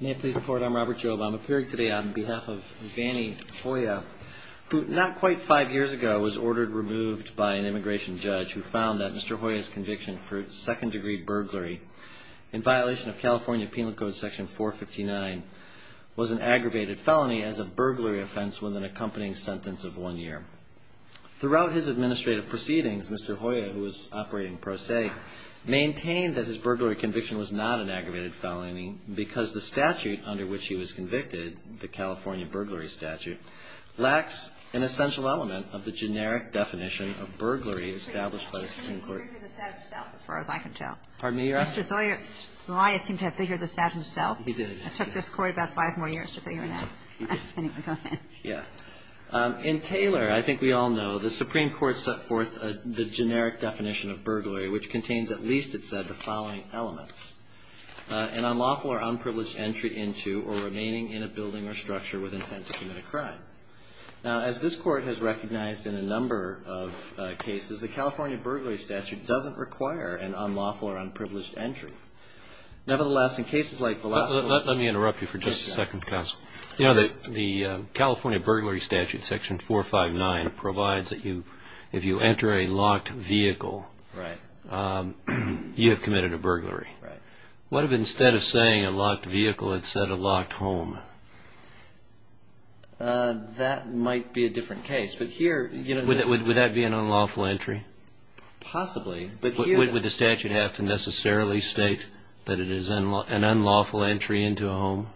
May it please the Court, I'm Robert Jobe. I'm appearing today on behalf of Vanny Hoya, who not quite five years ago was ordered removed by an immigration judge who found that Mr. Hoya's conviction for second-degree burglary in violation of California Penal Code Section 459 was an aggravated felony as a burglary offense with an accompanying sentence of one year. Throughout his administrative proceedings, Mr. Hoya, who was operating pro se, maintained that his burglary conviction was not an aggravated felony because the statute under which he was convicted, the California burglary statute, lacks an essential element of the generic definition of burglary established by the Supreme Court. And I'm lawful or unprivileged entry into or remaining in a building or structure with intent to commit a crime. Now, as this Court has recognized in a number of cases, the California burglary statute does not provide a generic definition of burglary. The California burglary statute doesn't require an unlawful or unprivileged entry. Nevertheless, in cases like the last one... Let me interrupt you for just a second, counsel. You know, the California burglary statute, Section 459, provides that if you enter a locked vehicle, you have committed a burglary. Right. What if instead of saying a locked vehicle, it said a locked home? That might be a different case. But here... Would that be an unlawful entry? Possibly. But here... Would the statute have to necessarily state that it is an unlawful entry into a home?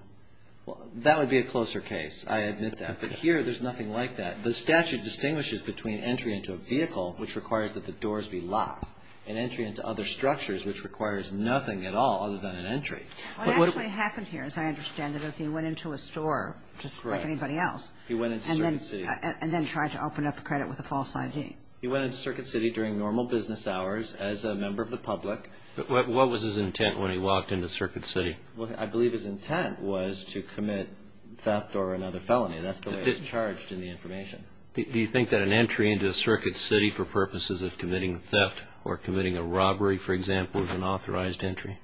That would be a closer case. I admit that. But here, there's nothing like that. The statute distinguishes between entry into a vehicle, which requires that the doors be locked, and entry into other structures, which requires nothing at all other than an entry. What actually happened here, as I understand it, is he went into a store, just like anybody else... Correct. He went into a certain city. And then tried to open up a credit with a false ID. He went into Circuit City during normal business hours as a member of the public. What was his intent when he walked into Circuit City? I believe his intent was to commit theft or another felony. That's the way it's charged in the information. Do you think that an entry into Circuit City for purposes of committing theft or committing a robbery, for example, is an authorized entry?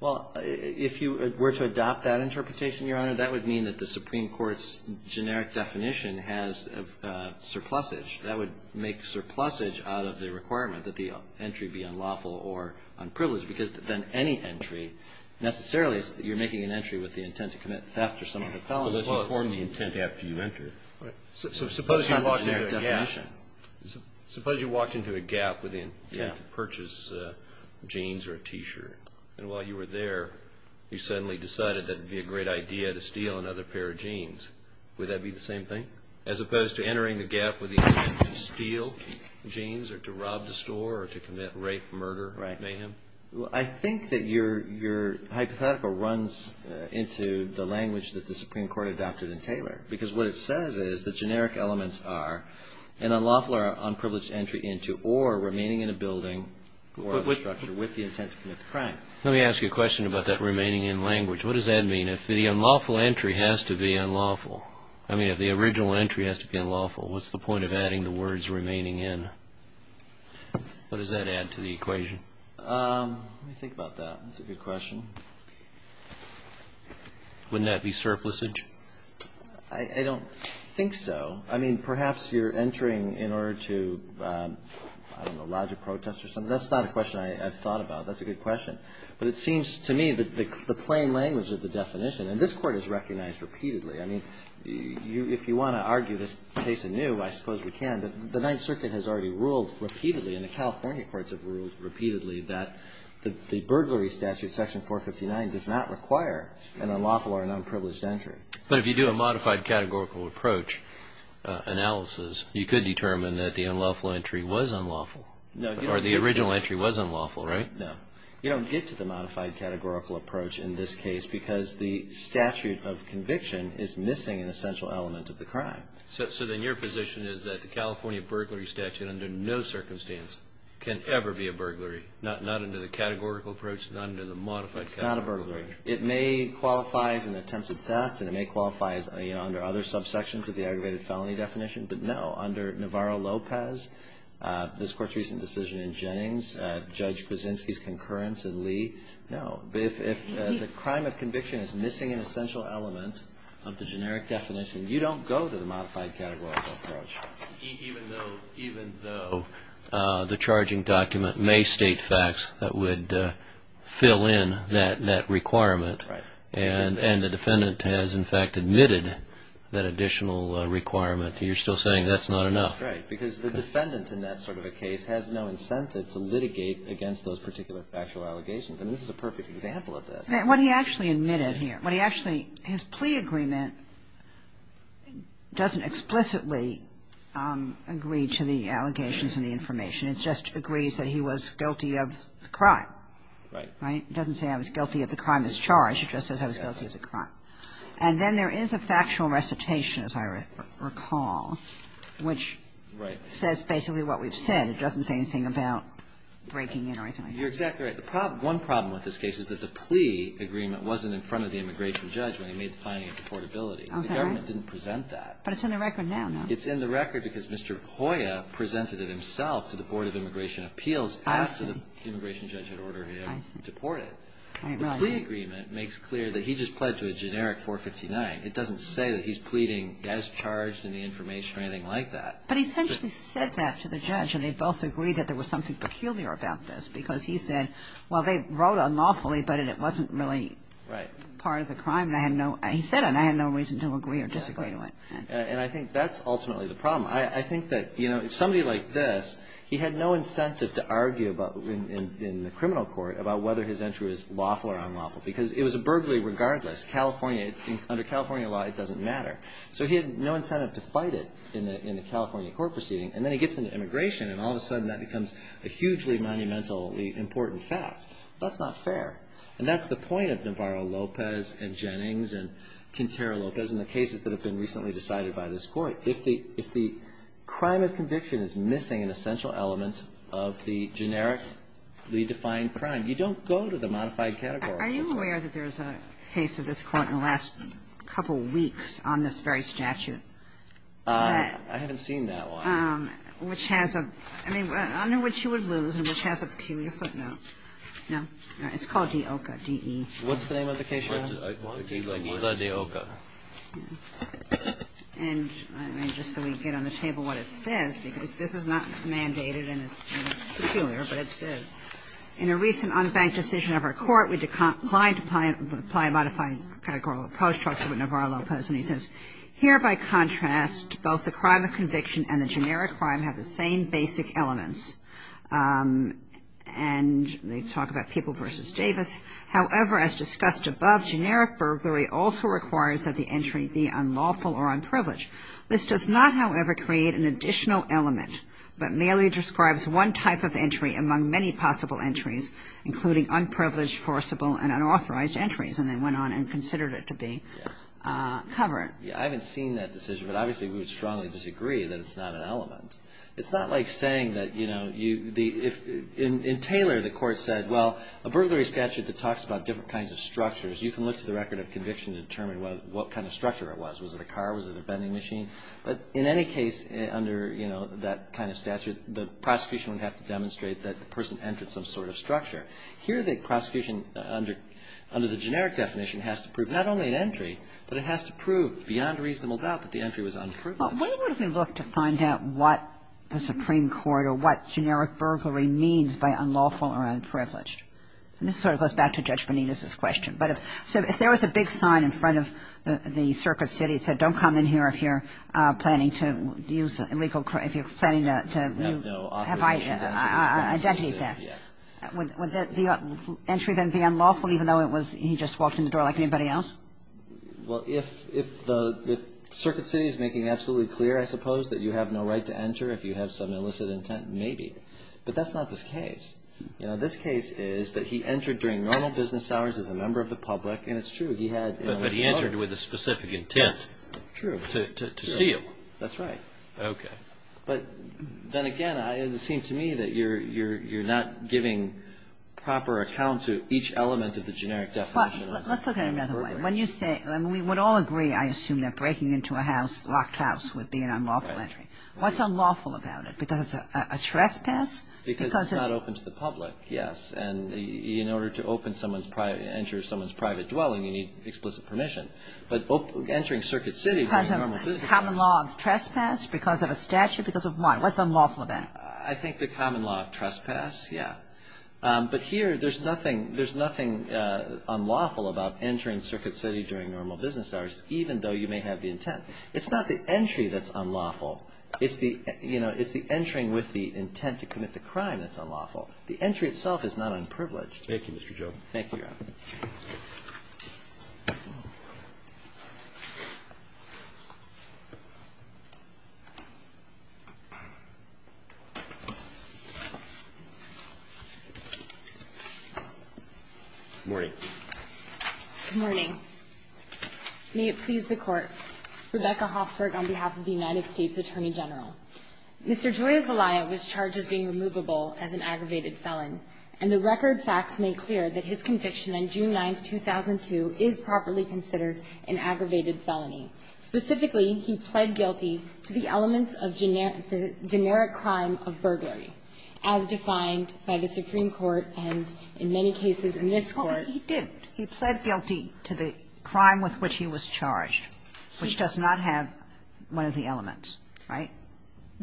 Well, if you were to adopt that interpretation, Your Honor, that would mean that the surplusage, that would make surplusage out of the requirement that the entry be unlawful or unprivileged. Because then any entry, necessarily, you're making an entry with the intent to commit theft or some other felony. Unless you form the intent after you enter it. Right. Suppose you walked into a gap with the intent to purchase jeans or a T-shirt. And while you were there, you suddenly decided that it would be a great idea to steal another pair of jeans. Would that be the same thing? As opposed to entering the gap with the intent to steal jeans or to rob the store or to commit rape, murder, mayhem? I think that your hypothetical runs into the language that the Supreme Court adopted in Taylor. Because what it says is the generic elements are an unlawful or unprivileged entry into or remaining in a building or structure with the intent to commit the crime. Let me ask you a question about that remaining in language. What does that mean? If the unlawful entry has to be unlawful? I mean, if the original entry has to be unlawful, what's the point of adding the words remaining in? What does that add to the equation? Let me think about that. That's a good question. Wouldn't that be surplusage? I don't think so. I mean, perhaps you're entering in order to lodge a protest or something. That's not a question I've thought about. That's a good question. But it seems to me that the plain language of the definition, and this Court has recognized repeatedly. I mean, if you want to argue this case anew, I suppose we can. But the Ninth Circuit has already ruled repeatedly, and the California courts have ruled repeatedly that the burglary statute, Section 459, does not require an unlawful or an unprivileged entry. But if you do a modified categorical approach analysis, you could determine that the unlawful entry was unlawful. Or the original entry was unlawful, right? No. You don't get to the modified categorical approach in this case because the statute of conviction is missing an essential element of the crime. So then your position is that the California burglary statute under no circumstance can ever be a burglary, not under the categorical approach, not under the modified categorical approach? It's not a burglary. It may qualify as an attempted theft, and it may qualify under other subsections of the aggravated felony definition, but no. Under Navarro-Lopez, this Court's recent decision in Jennings, Judge Krasinski's concurrence in Lee, no. If the crime of conviction is missing an essential element of the generic definition, you don't go to the modified categorical approach. Even though the charging document may state facts that would fill in that requirement and the defendant has in fact admitted that additional requirement, you're still saying that's not enough? Right. Because the defendant in that sort of a case has no incentive to litigate against those particular factual allegations. And this is a perfect example of this. What he actually admitted here, what he actually his plea agreement doesn't explicitly agree to the allegations and the information. It just agrees that he was guilty of the crime. Right. Right? It doesn't say I was guilty of the crime that's charged. It just says I was guilty of the crime. And then there is a factual recitation, as I recall, which says basically what we've said. It doesn't say anything about breaking in or anything like that. You're exactly right. One problem with this case is that the plea agreement wasn't in front of the immigration judge when he made the finding of deportability. The government didn't present that. But it's in the record now. It's in the record because Mr. Hoyer presented it himself to the Board of Immigration Appeals after the immigration judge had ordered him deported. The plea agreement makes clear that he just pled to a generic 459. It doesn't say that he's pleading as charged in the information or anything like But he essentially said that to the judge, and they both agreed that there was something peculiar about this because he said, well, they wrote unlawfully, but it wasn't really part of the crime. Right. He said it, and I had no reason to agree or disagree to it. Exactly. And I think that's ultimately the problem. I think that, you know, somebody like this, he had no incentive to argue in the criminal court about whether his entry was lawful or unlawful because it was a burglary regardless. California, under California law, it doesn't matter. So he had no incentive to fight it in the California court proceeding. And then he gets into immigration, and all of a sudden that becomes a hugely monumentally important fact. That's not fair. And that's the point of Navarro-Lopez and Jennings and Quintero-Lopez and the cases that have been recently decided by this Court. If the crime of conviction is missing an essential element of the generic, lead-defined crime, you don't go to the modified category. Are you aware that there's a case of this Court in the last couple weeks on this very statute? I haven't seen that one. Which has a – I mean, under which you would lose and which has a peculiar footnote. No? It's called De Oca, D-E-O-C-A. What's the name of the case? De Oca. And just so we get on the table what it says, because this is not mandated and it's peculiar, but it says, In a recent unbanked decision of our Court, we declined to apply a modified categorical approach. It talks about Navarro-Lopez, and he says, Here, by contrast, both the crime of conviction and the generic crime have the same basic elements. And they talk about People v. Davis. However, as discussed above, generic burglary also requires that the entry be unlawful or unprivileged. This does not, however, create an additional element, but merely describes one type of entry among many possible entries, including unprivileged, forcible and unauthorized entries. And they went on and considered it to be covered. Yeah. I haven't seen that decision, but obviously we would strongly disagree that it's not an element. It's not like saying that, you know, you – if – in Taylor, the Court said, Well, a burglary statute that talks about different kinds of structures, you can look to the record of conviction to determine what kind of structure it was. Was it a car? Was it a vending machine? But in any case, under, you know, that kind of statute, the prosecution would have to demonstrate that the person entered some sort of structure. Here, the prosecution under – under the generic definition has to prove not only an entry, but it has to prove beyond reasonable doubt that the entry was unproven. Well, what if we look to find out what the Supreme Court or what generic burglary means by unlawful or unprivileged? And this sort of goes back to Judge Benitez's question. But if – so if there was a big sign in front of the circuit city that said, don't come in here if you're planning to use illegal – if you're planning to have identity theft, would the entry then be unlawful, even though it was – he just walked in the door like anybody else? Well, if – if the – if circuit city is making absolutely clear, I suppose, that you have no right to enter if you have some illicit intent, maybe. But that's not this case. You know, this case is that he entered during normal business hours as a member of the public, and it's true. But he entered with a specific intent. True. To steal. That's right. Okay. But then again, it seems to me that you're not giving proper account to each element of the generic definition. Let's look at it another way. When you say – I mean, we would all agree, I assume, that breaking into a house, locked house, would be an unlawful entry. Right. What's unlawful about it? Because it's a trespass? Because it's not open to the public, yes. And in order to open someone's – enter someone's private dwelling, you need explicit permission. But entering circuit city during normal business hours. Common law of trespass because of a statute? Because of what? What's unlawful about it? I think the common law of trespass, yeah. But here, there's nothing – there's nothing unlawful about entering circuit city during normal business hours, even though you may have the intent. It's not the entry that's unlawful. It's the – you know, it's the entering with the intent to commit the crime that's unlawful. The entry itself is not unprivileged. Thank you, Mr. Joe. Thank you, Your Honor. Good morning. Good morning. May it please the Court. Rebecca Hoffberg on behalf of the United States Attorney General. Mr. Joya Zelaya was charged as being removable as an aggravated felon. And the record facts make clear that his conviction on June 9, 2002, is properly considered an aggravated felony. Specifically, he pled guilty to the elements of generic crime of burglary, as defined by the Supreme Court and in many cases in this Court. Well, he didn't. He pled guilty to the crime with which he was charged, which does not have one of the elements, right?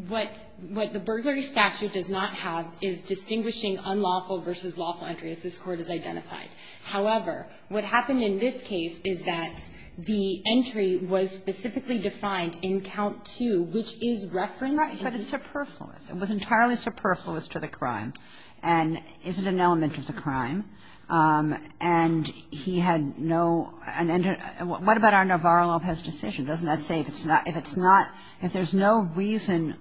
What the burglary statute does not have is distinguishing unlawful versus lawful entry, as this Court has identified. However, what happened in this case is that the entry was specifically defined in count two, which is referencing the entry. Right. But it's superfluous. It was entirely superfluous to the crime. And is it an element of the crime? And he had no – what about our Navarro-Lopez decision? Doesn't that say if it's not – if there's no reason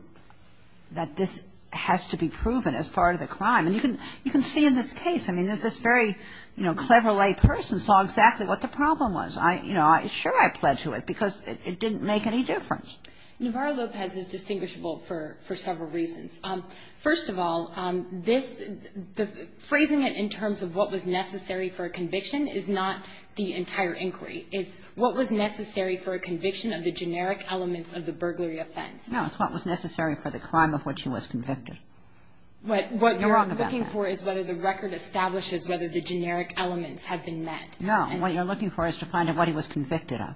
that this has to be proven as part of the crime? And you can see in this case, I mean, that this very, you know, clever lay person saw exactly what the problem was. You know, sure, I pled to it because it didn't make any difference. Navarro-Lopez is distinguishable for several reasons. First of all, this – phrasing it in terms of what was necessary for a conviction is not the entire inquiry. It's what was necessary for a conviction of the generic elements of the burglary offense. No, it's what was necessary for the crime of which he was convicted. You're wrong about that. What you're looking for is whether the record establishes whether the generic elements have been met. No, what you're looking for is to find out what he was convicted of.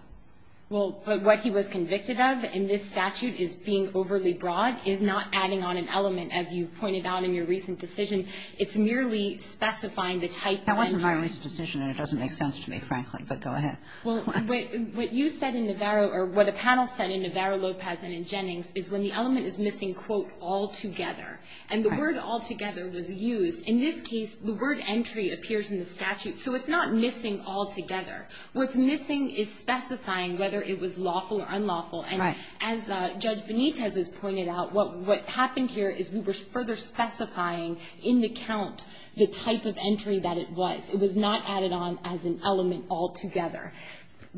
Well, but what he was convicted of in this statute is being overly broad, is not adding on an element, as you pointed out in your recent decision. It's merely specifying the type of entry. That wasn't my recent decision, and it doesn't make sense to me, frankly. But go ahead. Well, what you said in Navarro, or what a panel said in Navarro-Lopez and in Jennings is when the element is missing, quote, altogether. And the word altogether was used. In this case, the word entry appears in the statute. So it's not missing altogether. What's missing is specifying whether it was lawful or unlawful. And as Judge Benitez has pointed out, what happened here is we were further specifying in the count the type of entry that it was. It was not added on as an element altogether.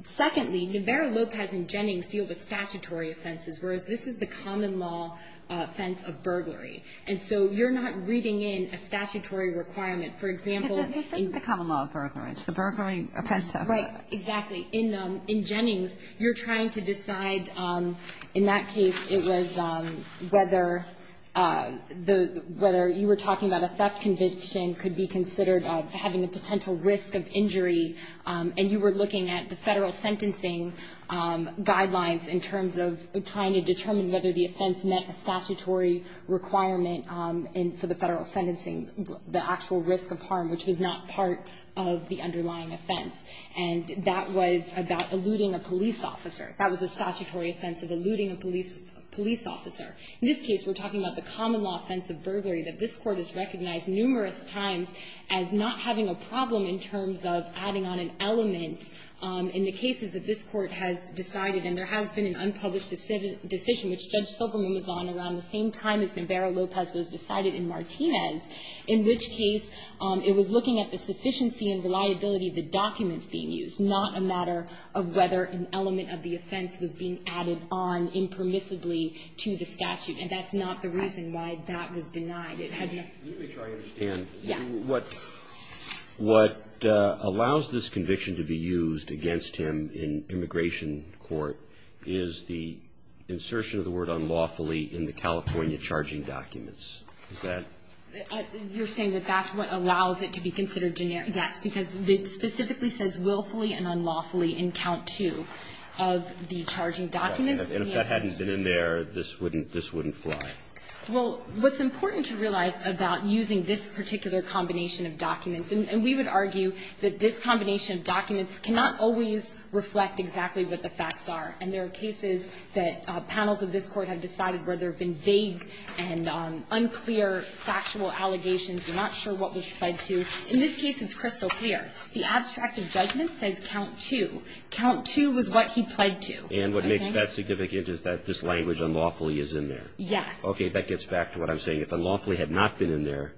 Secondly, Navarro-Lopez and Jennings deal with statutory offenses, whereas this is the common law offense of burglary. And so you're not reading in a statutory requirement. For example, in the common law of burglary, it's the burglary offense. Right. Exactly. In Jennings, you're trying to decide, in that case, it was whether the – whether you were talking about a theft conviction could be considered having a potential risk of injury, and you were looking at the federal sentencing guidelines in terms of trying to determine whether the offense met a statutory requirement for the federal sentencing, the actual risk of harm, which was not part of the underlying offense. And that was about eluding a police officer. That was a statutory offense of eluding a police officer. In this case, we're talking about the common law offense of burglary that this Court has recognized numerous times as not having a problem in terms of adding on an element in the cases that this Court has decided. And there has been an unpublished decision which Judge Silverman was on around the same time as Navarro-Lopez was decided in Martinez, in which case it was looking at the sufficiency and reliability of the documents being used, not a matter of whether an element of the offense was being added on impermissibly to the statute. And that's not the reason why that was denied. It had no – Let me try to understand. Yes. What allows this conviction to be used against him in immigration court is the insertion of the word unlawfully in the California charging documents. Is that – You're saying that that's what allows it to be considered generic. Yes. Because it specifically says willfully and unlawfully in count two of the charging documents. And if that hadn't been in there, this wouldn't – this wouldn't fly. Well, what's important to realize about using this particular combination of documents – and we would argue that this combination of documents cannot always reflect exactly what the facts are. And there are cases that panels of this Court have decided where there have been vague and unclear factual allegations. We're not sure what was pled to. In this case, it's crystal clear. The abstract of judgment says count two. Count two was what he pled to. And what makes that significant is that this language unlawfully is in there. Yes. Okay. That gets back to what I'm saying. If unlawfully had not been in there,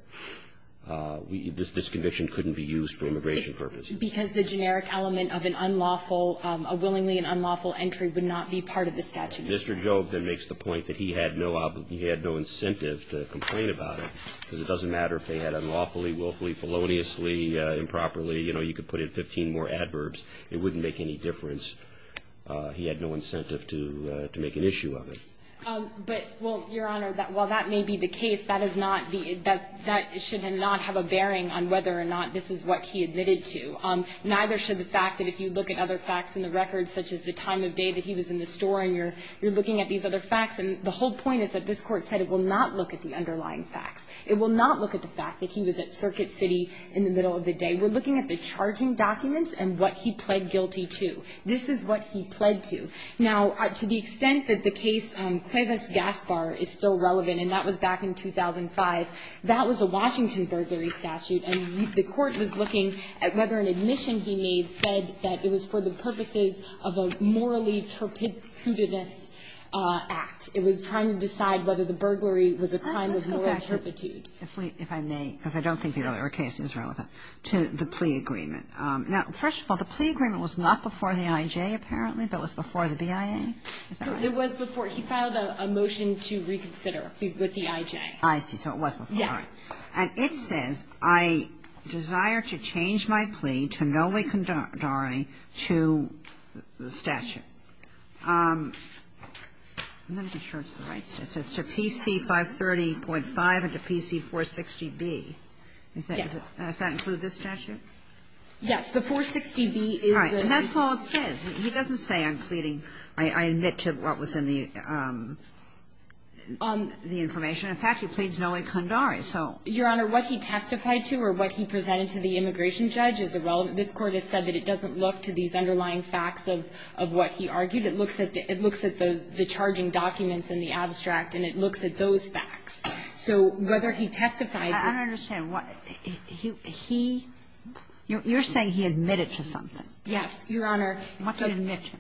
this conviction couldn't be used for immigration purposes. Because the generic element of an unlawful – a willingly and unlawful entry would not be part of the statute. Mr. Jobe then makes the point that he had no incentive to complain about it. Because it doesn't matter if they had unlawfully, willfully, feloniously, improperly. You know, you could put in 15 more adverbs. It wouldn't make any difference. He had no incentive to make an issue of it. But, well, Your Honor, while that may be the case, that is not the – that should not have a bearing on whether or not this is what he admitted to. Neither should the fact that if you look at other facts in the record, such as the time of day that he was in the store and you're looking at these other facts, and the whole point is that this Court said it will not look at the underlying facts. It will not look at the fact that he was at Circuit City in the middle of the day. We're looking at the charging documents and what he pled guilty to. This is what he pled to. Now, to the extent that the case Cuevas-Gaspar is still relevant, and that was back in 2005, that was a Washington burglary statute. And the Court was looking at whether an admission he made said that it was for the purpose of a crime of moral turpitude. It was trying to decide whether the burglary was a crime of moral turpitude. Kagan. Let's go back, if I may, because I don't think the earlier case is relevant, to the plea agreement. Now, first of all, the plea agreement was not before the I.J., apparently, but was before the BIA. Is that right? It was before. He filed a motion to reconsider with the I.J. I see. So it was before. Yes. And it says, I desire to change my plea to Noe Kundari to the statute. I'm not even sure it's the right statute. It says to PC 530.5 and to PC 460B. Yes. Does that include this statute? Yes. The 460B is the one. And that's all it says. He doesn't say I'm pleading, I admit to what was in the information. In fact, he pleads Noe Kundari. Your Honor, what he testified to or what he presented to the immigration judge is irrelevant. This Court has said that it doesn't look to these underlying facts of what he argued. It looks at the charging documents in the abstract, and it looks at those facts. So whether he testified to it or not. I don't understand. He – you're saying he admitted to something. Yes, Your Honor. What did he admit to?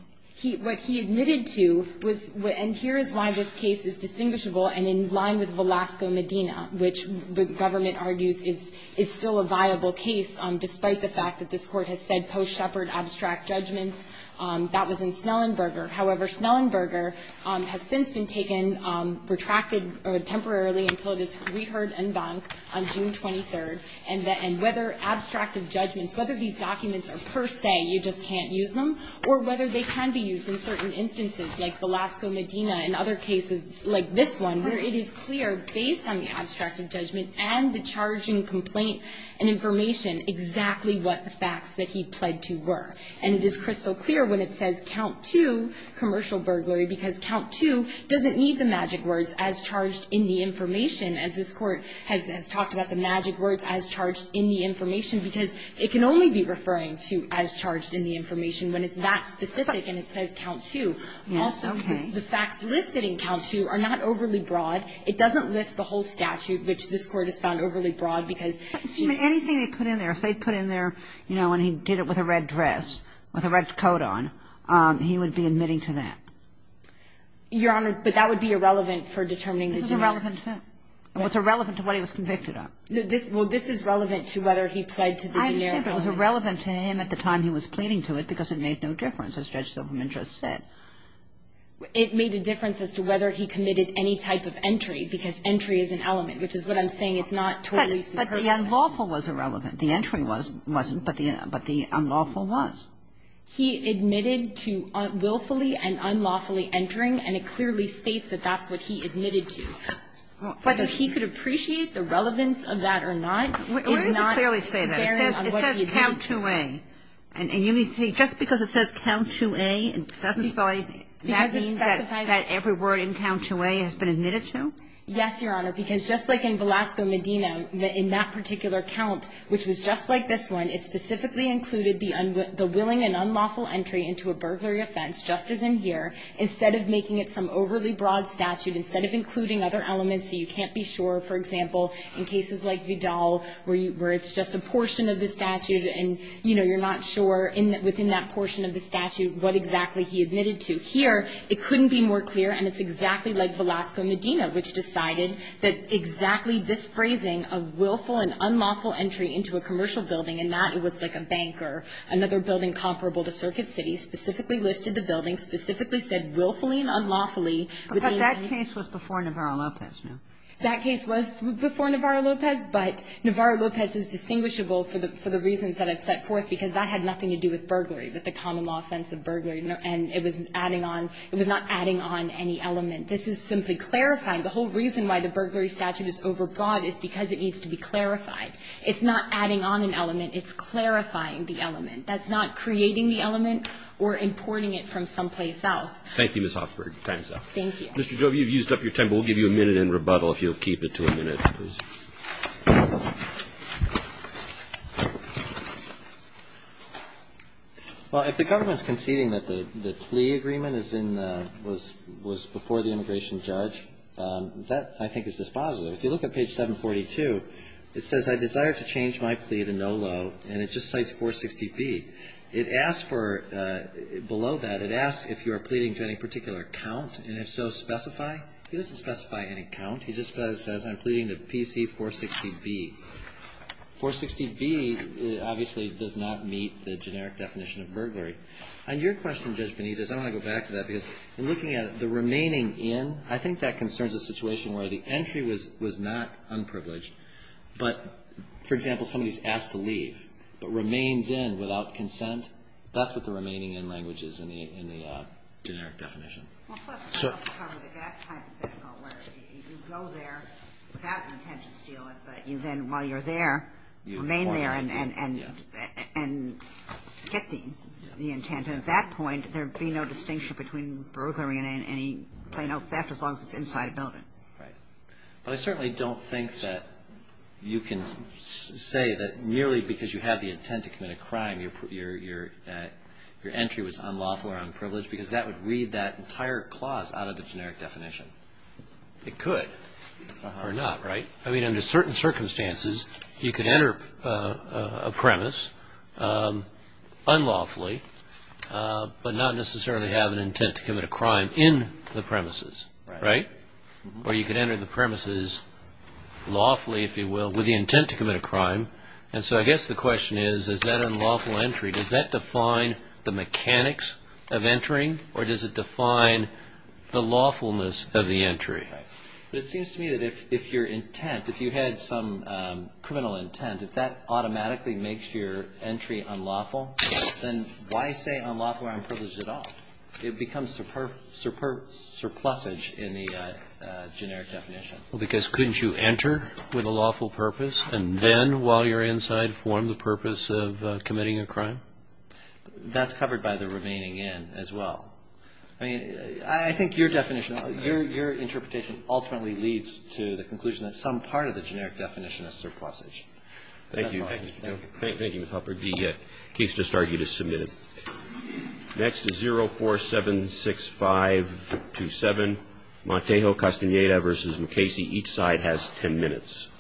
What he admitted to was – and here is why this case is distinguishable and in line with Velasco-Medina, which the government argues is still a viable case, despite the fact that this Court has said post-Shepherd abstract judgments that was in Snellenberger. However, Snellenberger has since been taken – retracted temporarily until it is reheard en banc on June 23rd. And whether abstractive judgments, whether these documents are per se, you just can't use them, or whether they can be used in certain instances like Velasco-Medina and other cases like this one, where it is clear, based on the abstractive judgment and the charging complaint and information, exactly what the facts that he pled to were. And it is crystal clear when it says, count two, commercial burglary, because count two doesn't need the magic words, as charged in the information, as this Court has talked about the magic words, as charged in the information, because it can only be referring to as charged in the information when it's that specific and it says count two. Also, the facts listed in count two are not overly broad. It doesn't list the whole statute, which this Court has found overly broad, because – Anything they put in there, if they put in there, you know, and he did it with a red dress, with a red coat on, he would be admitting to that. Your Honor, but that would be irrelevant for determining the generic. This is irrelevant to him. It was irrelevant to what he was convicted of. Well, this is relevant to whether he pled to the generic evidence. I understand, but it was irrelevant to him at the time he was pleading to it because it made no difference, as Judge Silverman just said. It made a difference as to whether he committed any type of entry, because entry is an element, which is what I'm saying. It's not totally superfluous. But the unlawful was irrelevant. The entry wasn't, but the unlawful was. He admitted to willfully and unlawfully entering, and it clearly states that that's what he admitted to. Whether he could appreciate the relevance of that or not is not – Why does it clearly say that? It says count two A. And you mean to say just because it says count two A, that doesn't specify that every word in count two A has been admitted to? Yes, Your Honor, because just like in Velasco Medina, in that particular count, which was just like this one, it specifically included the willing and unlawful entry into a burglary offense, just as in here, instead of making it some overly broad statute, instead of including other elements. So you can't be sure, for example, in cases like Vidal, where it's just a portion of the statute and, you know, you're not sure within that portion of the statute what exactly he admitted to. Here, it couldn't be more clear, and it's exactly like Velasco Medina, which decided that exactly this phrasing of willful and unlawful entry into a commercial building, and that it was like a bank or another building comparable to Circuit City, specifically listed the building, specifically said willfully and unlawfully would mean to you – But that case was before Navarro-Lopez, no? That case was before Navarro-Lopez, but Navarro-Lopez is distinguishable for the reasons that I've set forth, because that had nothing to do with burglary, with the common law offense of burglary. And it was adding on – it was not adding on any element. This is simply clarifying. The whole reason why the burglary statute is overbroad is because it needs to be clarified. It's not adding on an element. It's clarifying the element. That's not creating the element or importing it from someplace else. Thank you, Ms. Hoffberg. Your time is up. Mr. Jobe, you've used up your time, but we'll give you a minute in rebuttal if you'll keep it to a minute, please. Well, if the government's conceding that the plea agreement is in the – was before the immigration judge, that, I think, is dispositive. If you look at page 742, it says, I desire to change my plea to no loan, and it just cites 460B. It asks for – below that, it asks if you are pleading to any particular count, and if so, specify. It doesn't specify any count. It just says, I'm pleading to PC 460B. 460B obviously does not meet the generic definition of burglary. On your question, Judge Benitez, I want to go back to that, because in looking at the remaining in, I think that concerns a situation where the entry was not unprivileged, but, for example, somebody's asked to leave but remains in without consent. That's what the remaining in language is in the generic definition. Well, plus, it doesn't cover that hypothetical where you go there without the intent to steal it, but you then, while you're there, remain there and get the intent. And at that point, there would be no distinction between burglary and any plain old theft as long as it's inside a building. Right. But I certainly don't think that you can say that merely because you have the intent to commit a crime, your entry was unlawful or unprivileged, because that would require a clause out of the generic definition. It could. Or not, right? I mean, under certain circumstances, you could enter a premise unlawfully, but not necessarily have an intent to commit a crime in the premises, right? Or you could enter the premises lawfully, if you will, with the intent to commit a crime. And so I guess the question is, is that unlawful entry, does that define the mechanics of entering, or does it define the lawfulness of the entry? Right. But it seems to me that if your intent, if you had some criminal intent, if that automatically makes your entry unlawful, then why say unlawful or unprivileged at all? It becomes surplusage in the generic definition. Because couldn't you enter with a lawful purpose and then, while you're inside, form the purpose of committing a crime? That's covered by the remaining N as well. I mean, I think your definition, your interpretation ultimately leads to the conclusion that some part of the generic definition is surplusage. That's all. Thank you. Thank you. Thank you, Mr. Halpern. The case just argued is submitted. Next is 0476527, Montejo Castaneda v. McKaysey. Each side has 10 minutes.